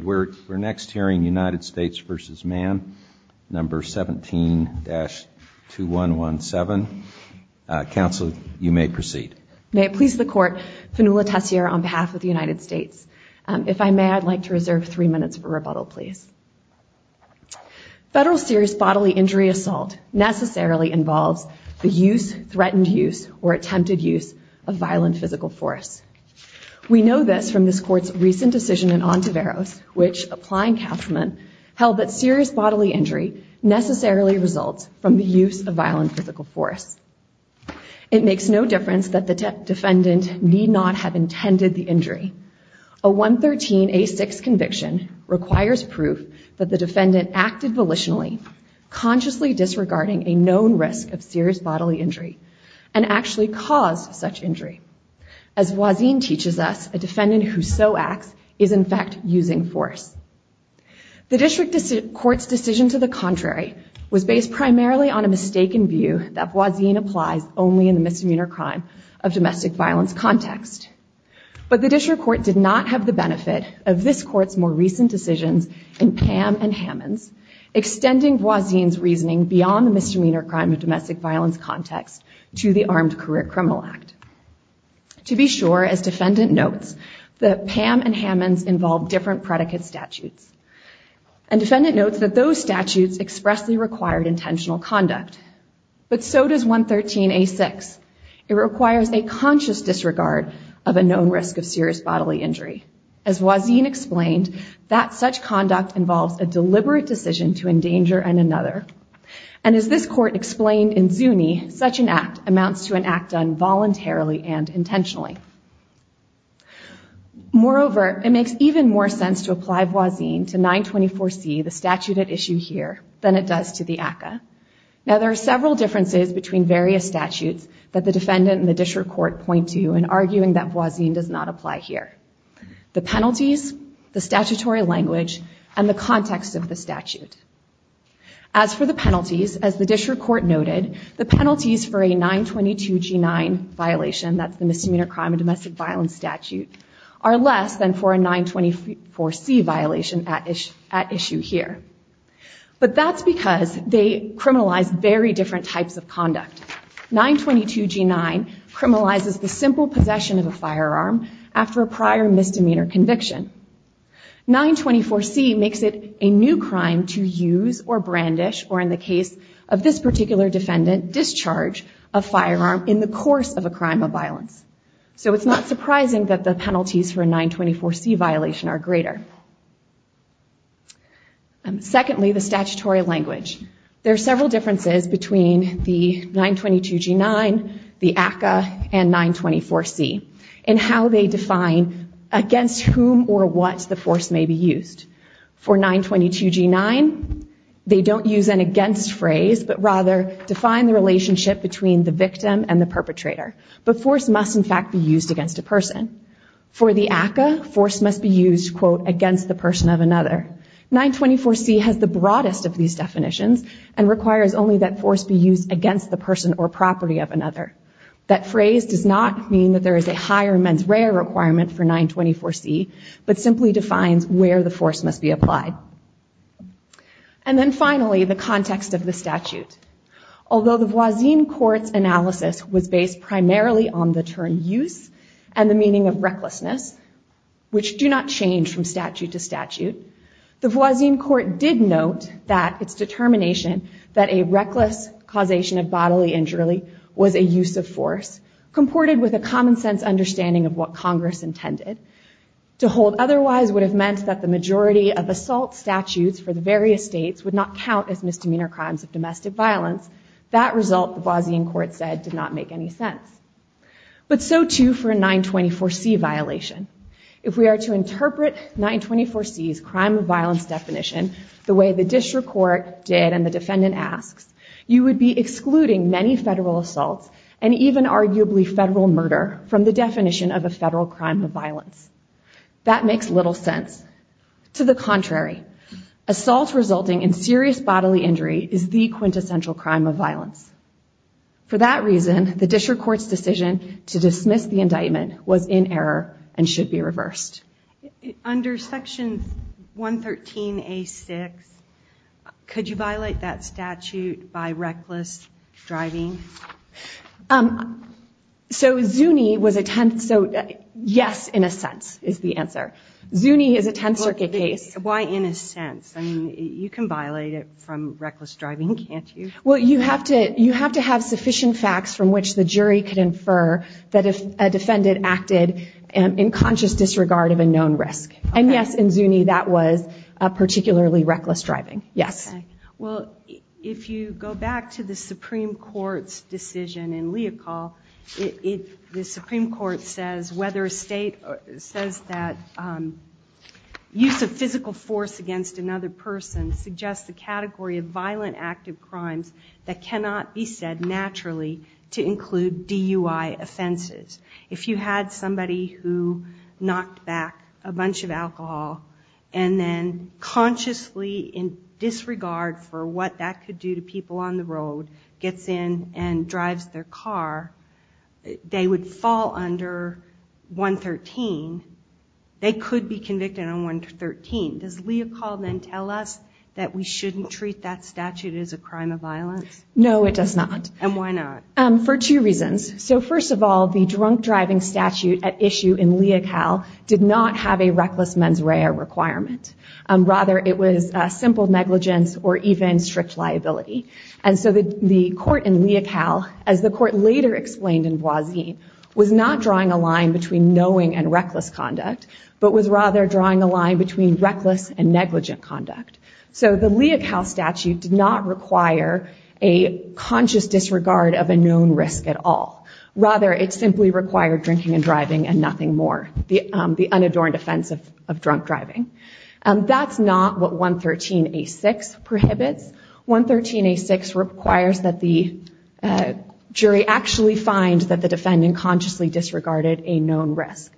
We're next hearing United States v. Mann, number 17-2117. Counsel, you may proceed. May it please the Court, Fanula Tessier on behalf of the United States. If I may, I'd like to reserve three minutes for rebuttal, please. Federal serious bodily injury assault necessarily involves the use, threatened use, or attempted use of violent physical force. We know this from this Court's recent decision in Ontiveros, which, applying Kauffman, held that serious bodily injury necessarily results from the use of violent physical force. It makes no difference that the defendant need not have intended the injury. A 113A6 conviction requires proof that the defendant acted volitionally, consciously disregarding a known risk of serious bodily injury, and actually caused such injury. As Voisin teaches us, a defendant who so acts is, in fact, using force. The District Court's decision to the contrary was based primarily on a mistaken view that Voisin applies only in the misdemeanor crime of domestic violence context. But the District Court did not have the benefit of this Court's more recent decisions in Pam and Hammond's, To be sure, as defendant notes, that Pam and Hammond's involved different predicate statutes. And defendant notes that those statutes expressly required intentional conduct. But so does 113A6. It requires a conscious disregard of a known risk of serious bodily injury. As Voisin explained, that such conduct involves a deliberate decision to endanger another. And as this Court explained in Zuni, such an act amounts to an act done voluntarily and intentionally. Moreover, it makes even more sense to apply Voisin to 924C, the statute at issue here, than it does to the ACCA. Now there are several differences between various statutes that the defendant and the District Court point to in arguing that Voisin does not apply here. The penalties, the statutory language, and the context of the statute. As for the penalties, as the District Court noted, the penalties for a 922G9 violation, that's the misdemeanor crime of domestic violence statute, are less than for a 924C violation at issue here. But that's because they criminalize very different types of conduct. 922G9 criminalizes the simple possession of a firearm after a prior misdemeanor conviction. 924C makes it a new crime to use or brandish, or in the case of this particular defendant, discharge a firearm in the course of a crime of violence. So it's not surprising that the penalties for a 924C violation are greater. Secondly, the statutory language. There are several differences between the 922G9, the ACCA, and 924C in how they define against whom or what the force may be used. For 922G9, they don't use an against phrase, but rather define the relationship between the victim and the perpetrator. But force must, in fact, be used against a person. For the ACCA, force must be used, quote, against the person of another. 924C has the broadest of these definitions and requires only that force be used against the person or property of another. That phrase does not mean that there is a higher mens rea requirement for 924C, but simply defines where the force must be applied. And then finally, the context of the statute. Although the Voisin court's analysis was based primarily on the term use and the meaning of recklessness, which do not change from statute to statute, the Voisin court did note that its determination that a reckless causation of bodily injury was a use of force, comported with a common sense understanding of what Congress intended. To hold otherwise would have meant that the majority of assault statutes for the various states would not count as misdemeanor crimes of domestic violence. That result, the Voisin court said, did not make any sense. But so too for a 924C violation. If we are to interpret 924C's crime of violence definition the way the district court did and the defendant asks, you would be excluding many federal assaults and even arguably federal murder from the definition of a federal crime of violence. That makes little sense. To the contrary, assault resulting in serious bodily injury is the quintessential crime of violence. For that reason, the district court's decision to dismiss the indictment was in error and should be reversed. Under section 113A6, could you violate that statute by reckless driving? Yes, in a sense, is the answer. Zuni is a Tenth Circuit case. You have to have sufficient facts from which the jury could infer that a defendant acted in conscious disregard of a known risk. And yes, in Zuni that was particularly reckless driving. Well, if you go back to the Supreme Court's decision in Leocal, the Supreme Court says whether a state says that use of physical force against another person suggests the category of violent active crimes that cannot be said naturally to include DUI offenses. If you had somebody who knocked back a bunch of alcohol and then consciously, in disregard for what that could do to people on the road, gets in and drives their car, they would fall under 113, they could be convicted on 113. Does Leocal then tell us that we shouldn't treat that statute as a crime of violence? No, it does not. And why not? For two reasons. So first of all, the drunk driving statute at issue in Leocal did not have a reckless mens rea requirement. Rather, it was simple negligence or even strict liability. And so the court in Leocal, as the court later explained in Boisin, was not drawing a line between knowing and reckless conduct, but was rather drawing a line between reckless and negligent conduct. So the Leocal statute did not require a conscious disregard of a known risk at all. Rather, it simply required drinking and driving and nothing more, the unadorned offense of drunk driving. That's not what 113A6 prohibits. 113A6 requires that the jury actually find that the defendant consciously disregarded a known risk.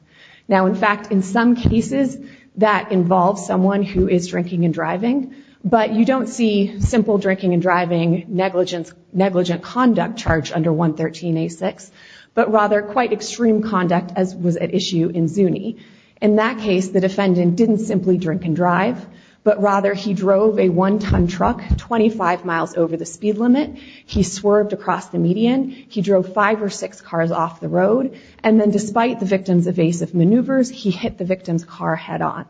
Now, in fact, in some cases that involves someone who is drinking and driving, but you don't see simple drinking and driving negligent conduct charged under 113A6, but rather quite extreme conduct as was at issue in Zuni. In that case, the defendant didn't simply drink and drive, but rather he drove a one-ton truck 25 miles over the speed limit. He swerved across the median. He made aggressive maneuvers. He hit the victim's car head-on.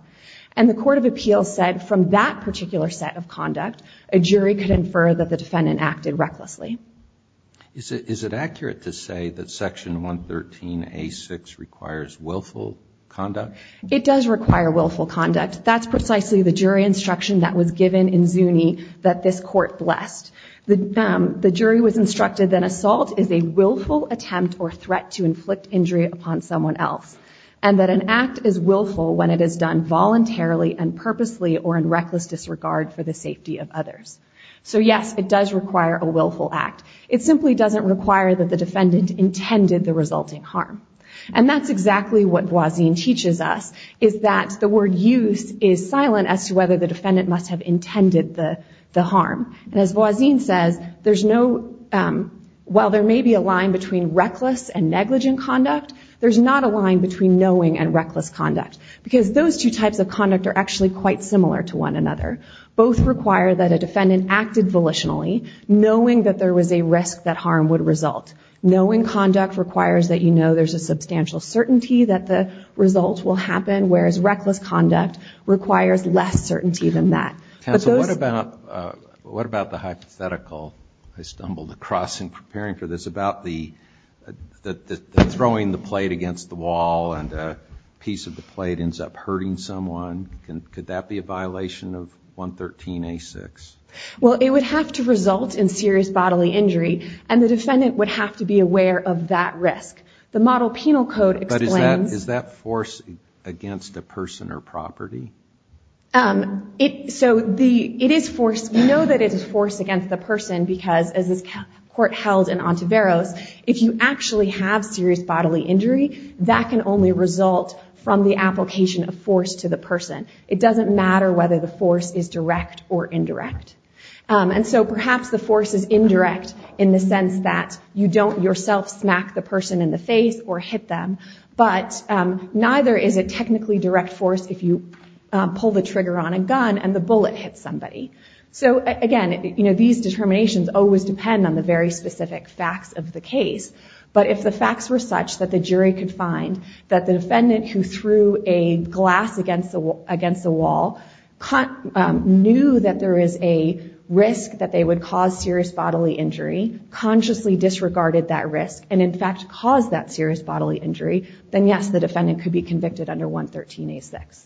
And the court of appeals said from that particular set of conduct, a jury could infer that the defendant acted recklessly. Is it accurate to say that section 113A6 requires willful conduct? It does require willful conduct. That's precisely the jury instruction that was given in Zuni that this court blessed. The jury was instructed that assault is a willful attempt or threat to inflict injury upon someone else, and that an act is willful when it is done voluntarily and purposely or in reckless disregard for the safety of others. So, yes, it does require a willful act. It simply doesn't require that the defendant intended the resulting harm. It is silent as to whether the defendant must have intended the harm. And as Boazine says, while there may be a line between reckless and negligent conduct, there's not a line between knowing and reckless conduct, because those two types of conduct are actually quite similar to one another. Both require that a defendant acted volitionally, knowing that there was a risk that harm would result. Knowing conduct requires that you know there's a substantial certainty that the result will happen, whereas reckless conduct requires less certainty than that. Counsel, what about the hypothetical, I stumbled across in preparing for this, about the throwing the plate against the wall and a piece of the plate ends up hurting someone? Could that be a violation of 113A6? Well, it would have to result in serious bodily injury, and the defendant would have to be aware of that risk. The model penal code explains... But is that force against a person or property? So it is force. You know that it is force against the person, because as this court held in Ontiveros, if you actually have serious bodily injury, that can only result from the application of force to the person. It doesn't matter whether the force is direct or indirect. And so perhaps the force is indirect in the sense that you don't yourself smack the person in the face or hit them, but neither is it technically direct force if you pull the trigger on a gun and the bullet hits somebody. So again, these determinations always depend on the very specific facts of the case. But if the facts were such that the jury could find that the defendant who threw a glass against the wall knew that there is a risk that they would cause serious bodily injury, consciously disregarded that risk, and in fact caused that serious bodily injury, then yes, the defendant could be convicted under 113A6.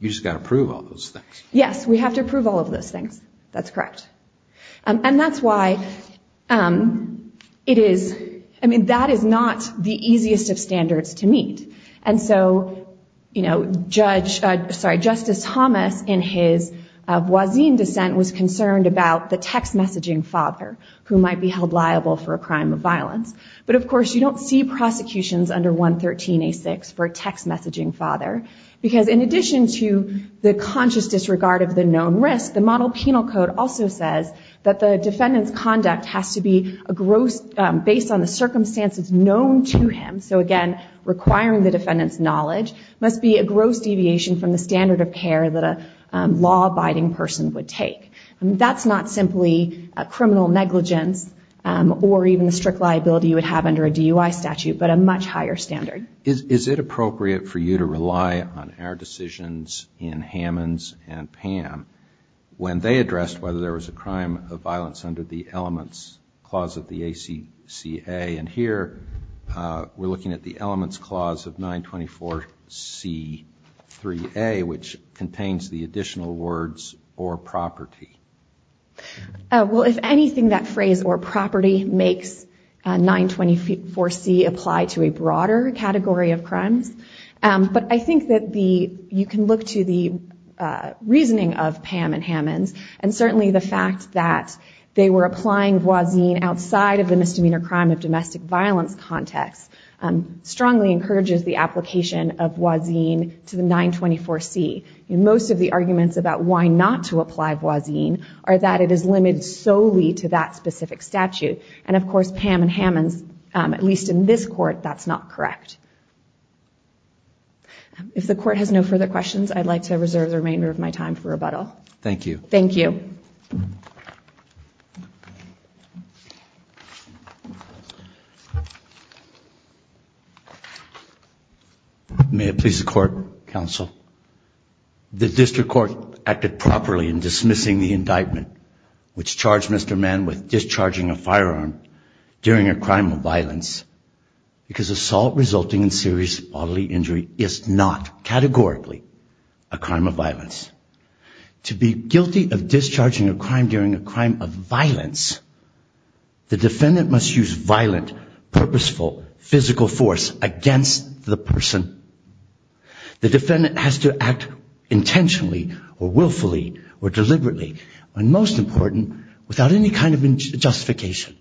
You just got to prove all those things. Yes, we have to prove all of those things. That's correct. And that's why it is... I mean, that is not the easiest of standards to meet. And so, you know, Judge... Sorry, Justice Thomas in his Voisin dissent was concerned about the text messaging father who might be held liable for a crime of violence. But of course you don't see prosecutions under 113A6 for a text messaging father, because in addition to the conscious disregard of the known risk, the model penal code also says that the defendant's conduct has to be a gross... based on the circumstances known to him. So again, requiring the defendant's knowledge must be a gross deviation from the standard of care that a law-abiding person would take. That's not simply a criminal negligence or even a strict liability you would have under a DUI statute, but a much higher standard. Is it appropriate for you to rely on our decisions in Hammons and Pam when they addressed whether there was a crime of violence under the elements clause of the ACCA? And here we're looking at the elements clause of 924C3A, which contains the additional words or property. Well, if anything, that phrase or property makes 924C apply to a broader category of crimes. But I think that you can look to the reasoning of Pam and Hammons, and certainly the fact that they were applying Voisin outside of the misdemeanor crime of domestic violence context strongly encourages the application of Voisin to the 924C. Most of the arguments about why not to apply Voisin are that it is limited solely to that specific statute. And of course, Pam and Hammons, at least in this court, that's not correct. If the court has no further questions, I'd like to reserve the remainder of my time for rebuttal. Thank you. May it please the court, counsel. The district court acted properly in dismissing the indictment which charged Mr. Mann with discharging a firearm during a crime of violence, because assault resulting in serious bodily injury is not categorically a crime of violence. To be guilty of discharging a crime during a crime of violence, the defendant must use violent, purposeful, physical force against the person. The defendant has to act intentionally or willfully or deliberately, and most important, without any kind of justification.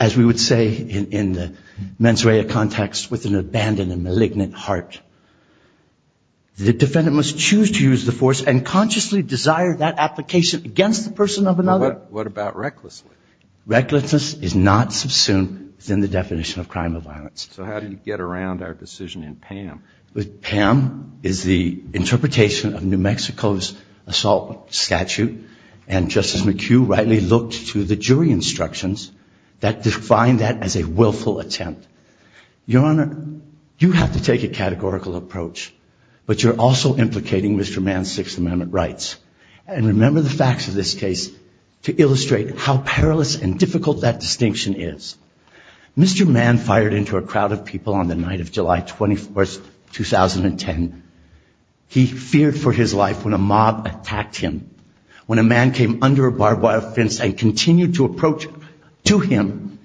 As we would say in the mens rea context, with an abandoned and malignant heart. The defendant must choose to use the force and consciously desire that application against the person of another. What about recklessly? Recklessness is not subsumed within the definition of crime of violence. So how do you get around our decision in Pam? Pam is the interpretation of New Mexico's assault statute, and Justice McHugh rightly looked to the jury instructions that defined that as a willful attempt. Your Honor, you have to take a categorical approach, but you're also implicating Mr. Mann's Sixth Amendment rights, and remember the facts of this case to illustrate how perilous and difficult that distinction is. Mr. Mann fired into a crowd of people on the night of July 21, 2010. He feared for his life when a mob attacked him, when a man came under a barbed wire fence and continued to approach to him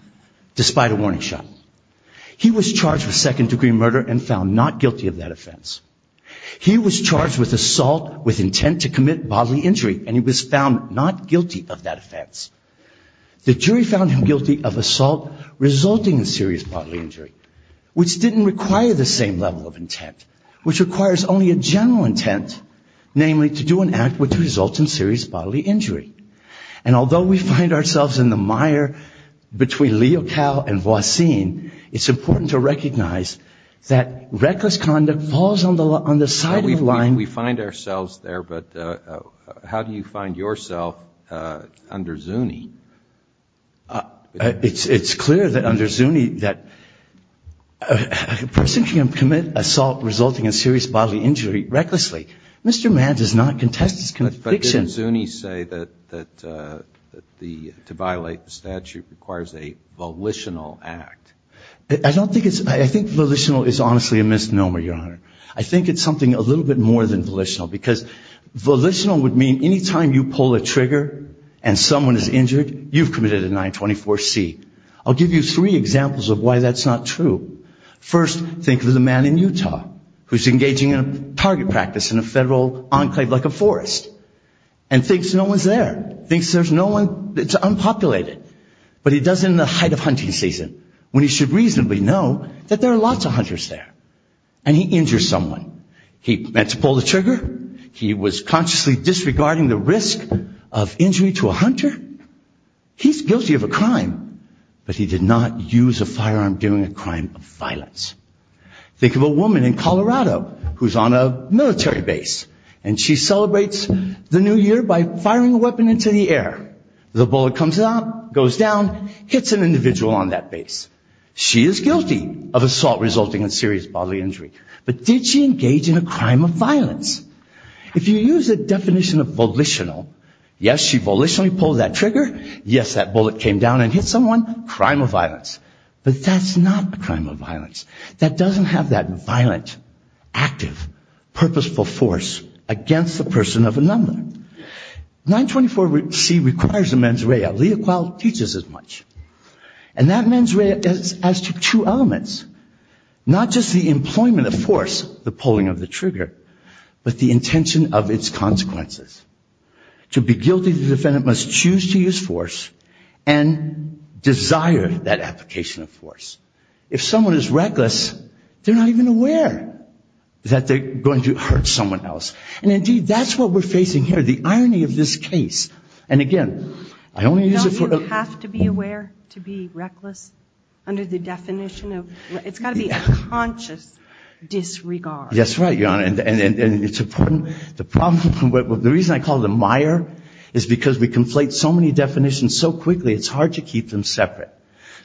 despite a warning shot. He was charged with second-degree murder and found not guilty of that offense. He was charged with assault with intent to commit bodily injury, and he was found not guilty of that offense. The jury found him guilty of assault resulting in serious bodily injury, which didn't require the same level of intent, which requires only a general intent, namely to do an act which results in serious bodily injury. And although we find ourselves in the mire between Leocal and Voisin, it's important to recognize that reckless conduct falls on the side of the line. We find ourselves there, but how do you find yourself under Zuni? It's clear that under Zuni that a person can commit assault resulting in serious bodily injury recklessly, Mr. Mann does not contest his conviction. But didn't Zuni say that the, to violate the statute requires a volitional act? I don't think it's, I think volitional is honestly a misnomer, Your Honor. I think it's something a little bit more than volitional, because volitional would mean anytime you pull a trigger and someone is injured, you've committed a 924C. I'll give you three examples of why that's not true. First, think of the man in Utah who's engaging in a target practice in a federal enclave like a forest and thinks no one's there, thinks there's no one, it's unpopulated. But he does it in the height of hunting season when he should reasonably know that there are lots of hunters there. And he injures someone. He meant to pull the trigger. He was consciously disregarding the risk of injury to a hunter. He's guilty of a crime, but he did not use a firearm during a crime of violence. Think of a woman in Colorado who's on a military base and she celebrates the new year by firing a weapon into the air. The bullet comes out, goes down, hits an individual on that base. She is guilty of assault resulting in serious bodily injury. But did she engage in a crime of violence? If you use a definition of volitional, yes, she volitionally pulled that trigger, yes, that bullet came down and hit someone, crime of violence. But that's not a crime of violence. That doesn't have that violent, active, purposeful force against the person of a number. 924C requires a mens rea. And that mens rea adds to two elements. Not just the employment of force, the pulling of the trigger, but the intention of its consequences. To be guilty, the defendant must choose to use force and desire that application of force. If someone is reckless, they're not even aware that they're going to hurt someone else. And, indeed, that's what we're facing here, the irony of this case. And, again, I only use it for... Don't you have to be aware to be reckless under the definition of... It's got to be a conscious disregard. Yes, right, Your Honor, and it's important. The reason I call it a mire is because we conflate so many definitions so quickly, it's hard to keep them separate.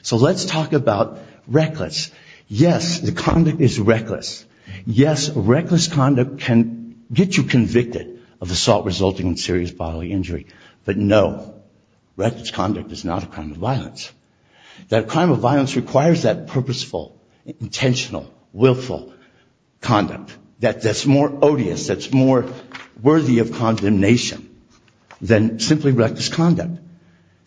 So let's talk about reckless. Yes, the conduct is reckless. Yes, reckless conduct can get you convicted of assault resulting in serious bodily injury. But, no, reckless conduct is not a crime of violence. That crime of violence requires that purposeful, intentional, willful conduct that's more odious, that's more worthy of condemnation, than simply reckless conduct.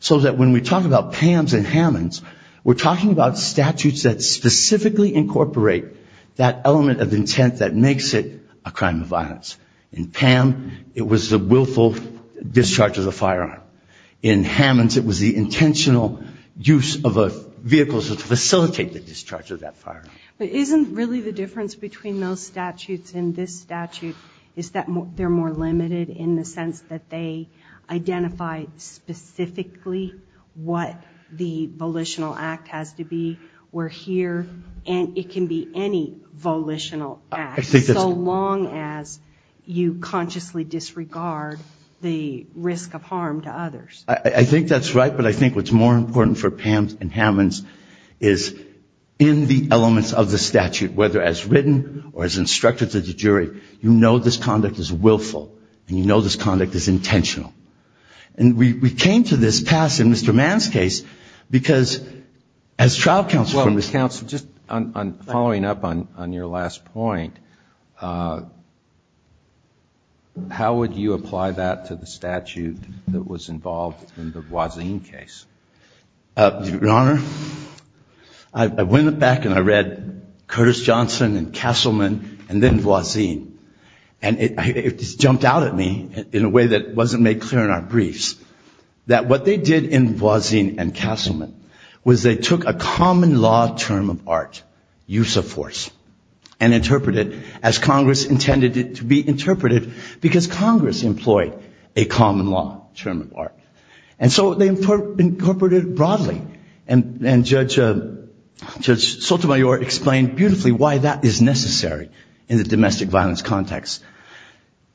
So that when we talk about Pam's and Hammond's, we're talking about statutes that specifically incorporate that element of intent that makes it a crime of violence. In Pam, it was the willful discharge of the firearm. In Hammond's, it was the intentional use of a vehicle to facilitate the discharge of that firearm. But isn't really the difference between those statutes and this statute is that they're more limited in the sense that they identify specifically what the volitional act has to be. We're here, and it can be any volitional act, so long as you consciously disregard the risk of harm to others. I think that's right, but I think what's more important for Pam's and Hammond's is in the elements of intent of the statute, whether as written or as instructed to the jury, you know this conduct is willful, and you know this conduct is intentional. And we came to this pass in Mr. Mann's case because as trial counsel for Ms. Counsel. Just following up on your last point, how would you apply that to the statute that was involved in the Guazine case? Your Honor, I went back and I read Curtis Johnson and Castleman and then Guazine. And it jumped out at me in a way that wasn't made clear in our briefs that what they did in Guazine and Castleman was they took a common law term of art, use of force, and interpreted as Congress intended it to be interpreted because Congress employed a common law term of art. And so they incorporated it broadly. And Judge Sotomayor explained beautifully why that is necessary in the domestic violence context.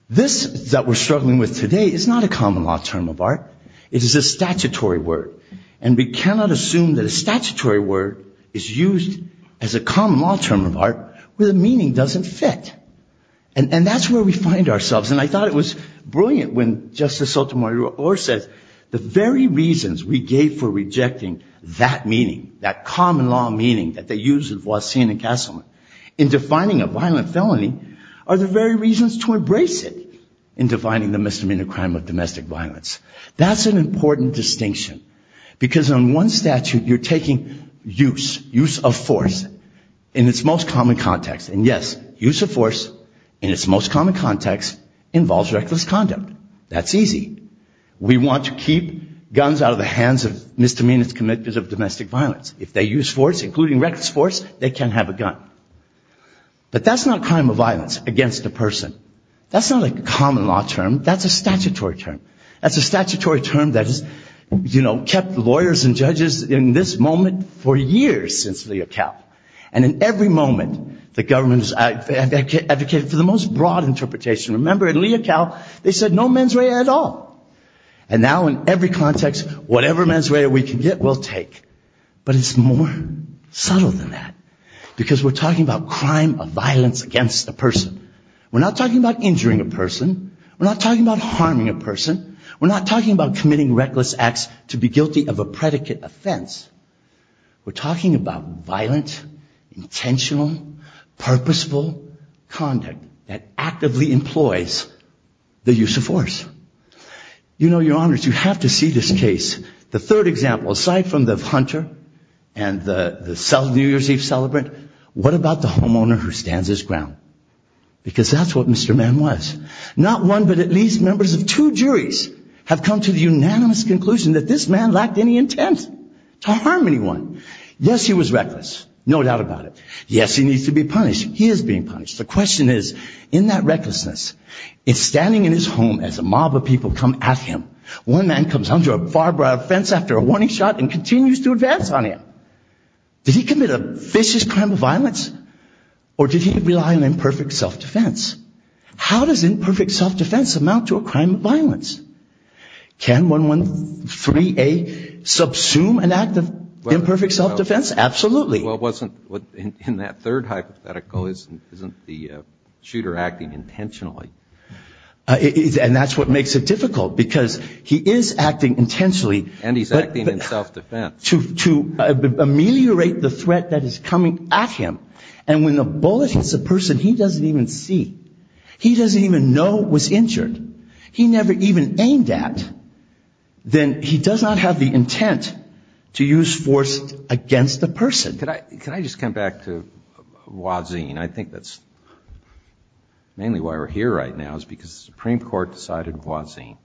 This that we're struggling with today is not a common law term of art, it is a statutory word. And we cannot assume that a statutory word is used as a common law term of art where the meaning doesn't fit. And that's where we find ourselves. And I thought it was brilliant when Justice Sotomayor says the very reasons we gave for rejecting that meaning, that common law meaning that they used in Guazine and Castleman in defining a violent felony are the very reasons to embrace it in defining the misdemeanor crime of domestic violence. That's an important distinction. Because on one statute you're taking use, use of force, in its most common context. And, yes, use of force in its most common context involves reckless conduct. That's easy. We want to keep guns out of the hands of misdemeanors committed of domestic violence. If they use force, including reckless force, they can have a gun. But that's not crime of violence against a person. That's not a common law term, that's a statutory term. That's a statutory term that has, you know, kept lawyers and judges in this moment for years since Leocal. And in every moment the government has advocated for the most broad interpretation. Remember in Leocal they said no mens rea at all. And now in every context whatever mens rea we can get we'll take. But it's more subtle than that because we're talking about crime of violence against a person. We're not talking about injuring a person. We're not talking about harming a person. We're not talking about committing reckless acts to be guilty of a predicate offense. We're talking about violent, intentional, purposeful conduct that actively employs the use of force. You know, your honors, you have to see this case. The third example, aside from the hunter and the New Year's Eve celebrant, what about the homeowner who stands his ground? Because that's what Mr. Mann was. Not one but at least members of two juries have come to the unanimous conclusion that this man lacked any intent to harm anyone. Yes, he was reckless, no doubt about it. Yes, he needs to be punished. He is being punished. The question is, in that recklessness, is standing in his home as a mob of people come at him, one man comes under a far broad fence after a warning shot and continues to advance on him. Does an imperfect self-defense amount to a crime of violence? Can 113A subsume an act of imperfect self-defense? Absolutely. Well, in that third hypothetical, isn't the shooter acting intentionally? And that's what makes it difficult, because he is acting intentionally. And he's acting in self-defense. To ameliorate the threat that is coming at him. And when the bullet hits a person he doesn't even see, he doesn't even know was injured, he never even aimed at, then he does not have the intent to use force against the person. Could I just come back to Wazin? I think that's mainly why we're here right now, is because the Supreme Court decided Wazin.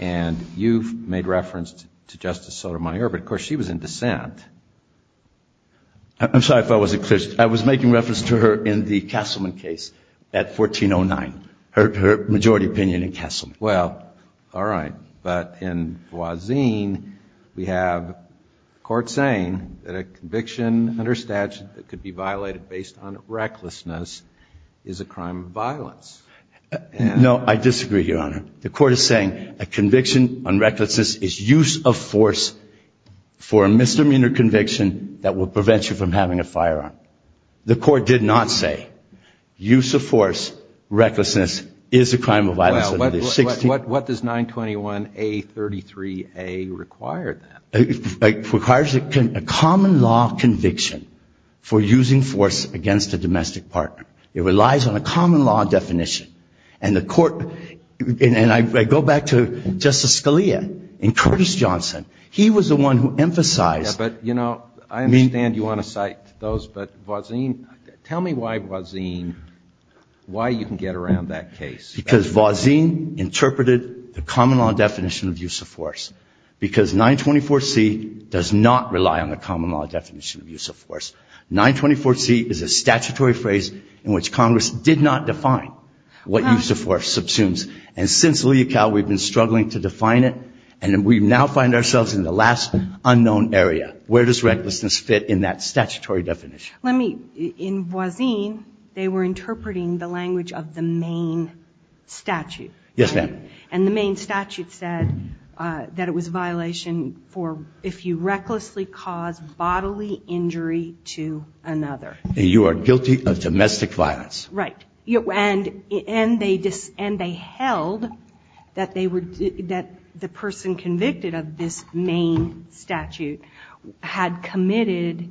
And you've made reference to Justice Sotomayor, but of course she was in dissent. I'm sorry if I wasn't clear. I was making reference to her in the Castleman case at 1409, her majority opinion in Castleman. Well, all right. But in Wazin we have a court saying that a conviction under statute that could be violated based on recklessness is a crime of violence. No, I disagree, Your Honor. The court is saying a conviction on recklessness is use of force for a misdemeanor conviction that will prevent you from having a firearm. The court did not say use of force, recklessness is a crime of violence. What does 921A33A require then? It requires a common law conviction for using force against a domestic partner. It relies on a common law definition. And the court, and I go back to Justice Scalia and Curtis Johnson, he was the one who emphasized. Yeah, but, you know, I understand you want to cite those, but Wazin, tell me why Wazin, why you can get around that case. Because Wazin interpreted the common law definition of use of force. Because 924C does not rely on the common law definition of use of force. 924C is a statutory phrase in which Congress did not define what use of force subsumes. And since Leocal we've been struggling to define it and we now find ourselves in the last unknown area. Where does recklessness fit in that statutory definition? Let me, in Wazin they were interpreting the language of the main statute. Yes, ma'am. And the main statute said that it was a violation for if you recklessly cause bodily injury to another. And you are guilty of domestic violence. Right. And they held that the person convicted of this main statute had committed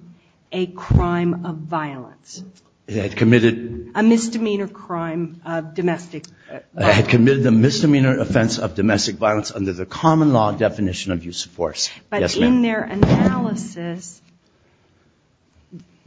a crime of violence. A misdemeanor crime of domestic violence. Had committed a misdemeanor offense of domestic violence under the common law definition of use of force. Yes, ma'am. But in their analysis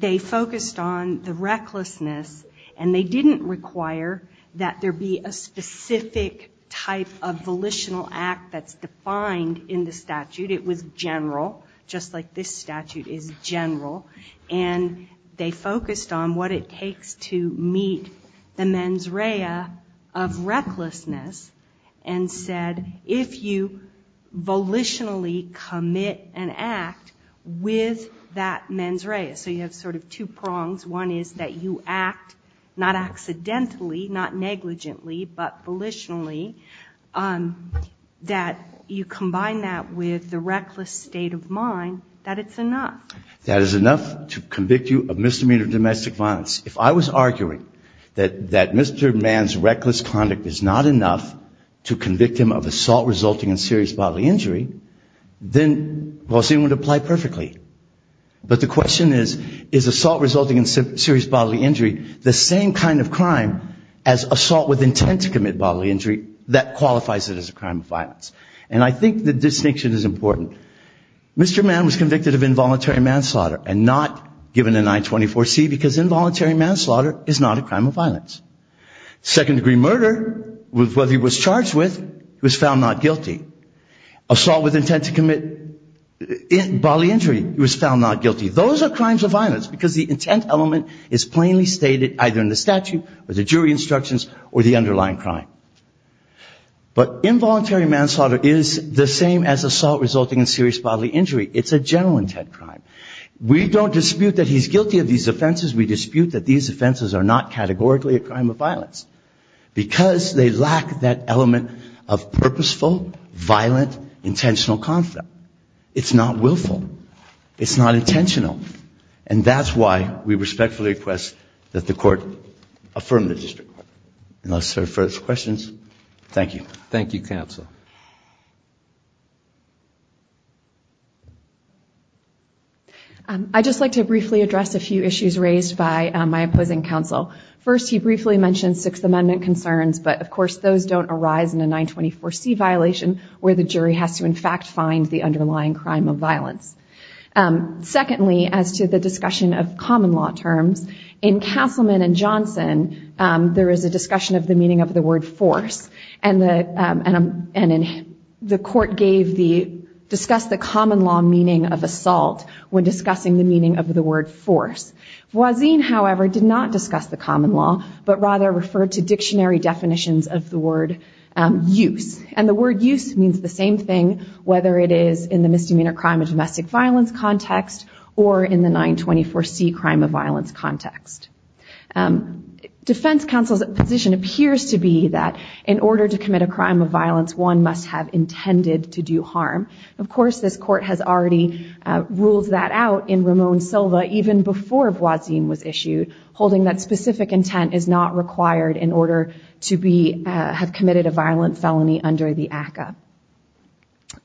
they focused on the recklessness and they didn't require that there be a specific type of volitional act that's defined in the statute. It was general, just like this statute is general. And they focused on what it takes to meet the mens rea of recklessness and said if you volitionally commit an act with that mens rea. So you have sort of two prongs, one is that you act not accidentally, not negligently, but volitionally. That you combine that with the reckless state of mind that it's enough. That it's enough to convict you of misdemeanor domestic violence. If I was arguing that Mr. Mann's reckless conduct is not enough to convict him of assault resulting in serious bodily injury, then Gauzin would apply perfectly. But the question is, is assault resulting in serious bodily injury the same kind of crime as assault with intent to commit bodily injury that qualifies it as a crime of violence. And I think the distinction is important. Mr. Mann was convicted of involuntary manslaughter and not given a 924C because involuntary manslaughter is not a crime of violence. Second degree murder, whether he was charged with, he was found not guilty. Assault with intent to commit bodily injury, he was found not guilty. Those are crimes of violence because the intent element is plainly stated either in the statute or the jury instructions or the underlying crime. But involuntary manslaughter is the same as assault resulting in serious bodily injury. It's a general intent crime. We don't dispute that he's guilty of these offenses, we dispute that these offenses are not categorically a crime of violence. Because they lack that element of purposeful, violent, intentional conflict. It's not willful. It's not intentional. And that's why we respectfully request that the court affirm the district. And that's our first questions. Thank you, counsel. I'd just like to briefly address a few issues raised by my opposing counsel. First, he briefly mentioned Sixth Amendment concerns, but of course those don't arise in a 924C violation where the jury has to in fact find the underlying crime of violence. Secondly, as to the discussion of common law terms, in Castleman and Johnson, there is a discussion of the meaning of the word force. And the court discussed the common law meaning of assault when discussing the meaning of the word force. Voisin, however, did not discuss the common law, but rather referred to dictionary definitions of the word use. And the word use means the same thing whether it is in the misdemeanor crime of domestic violence context or in the 924C crime of violence context. In order to commit a crime of violence, one must have intended to do harm. Of course, this court has already ruled that out in Ramon Silva even before Voisin was issued, holding that specific intent is not required in order to have committed a violent felony under the ACCA.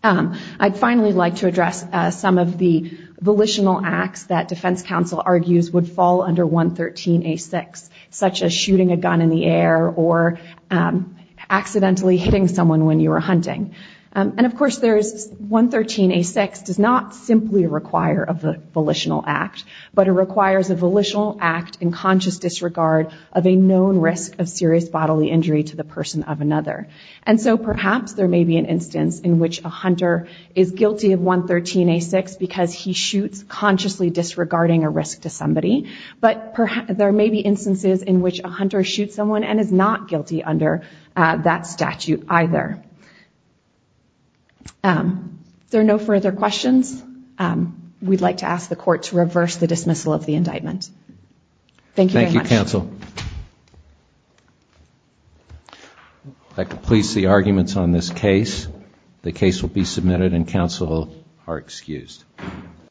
I'd finally like to address some of the volitional acts that defense counsel argues would fall under 113A6, such as shooting a gun in the air or accidentally hitting someone when you were hunting. Of course, 113A6 does not simply require a volitional act, but it requires a volitional act in conscious disregard of a known risk of serious bodily injury to the person of another. And so perhaps there may be an instance in which a hunter is guilty of 113A6 because he shoots consciously disregarding a risk to someone and is not guilty under that statute either. If there are no further questions, we'd like to ask the court to reverse the dismissal of the indictment. Thank you very much. Thank you, counsel. I'd like to police the arguments on this case. The case will be submitted and counsel are excused.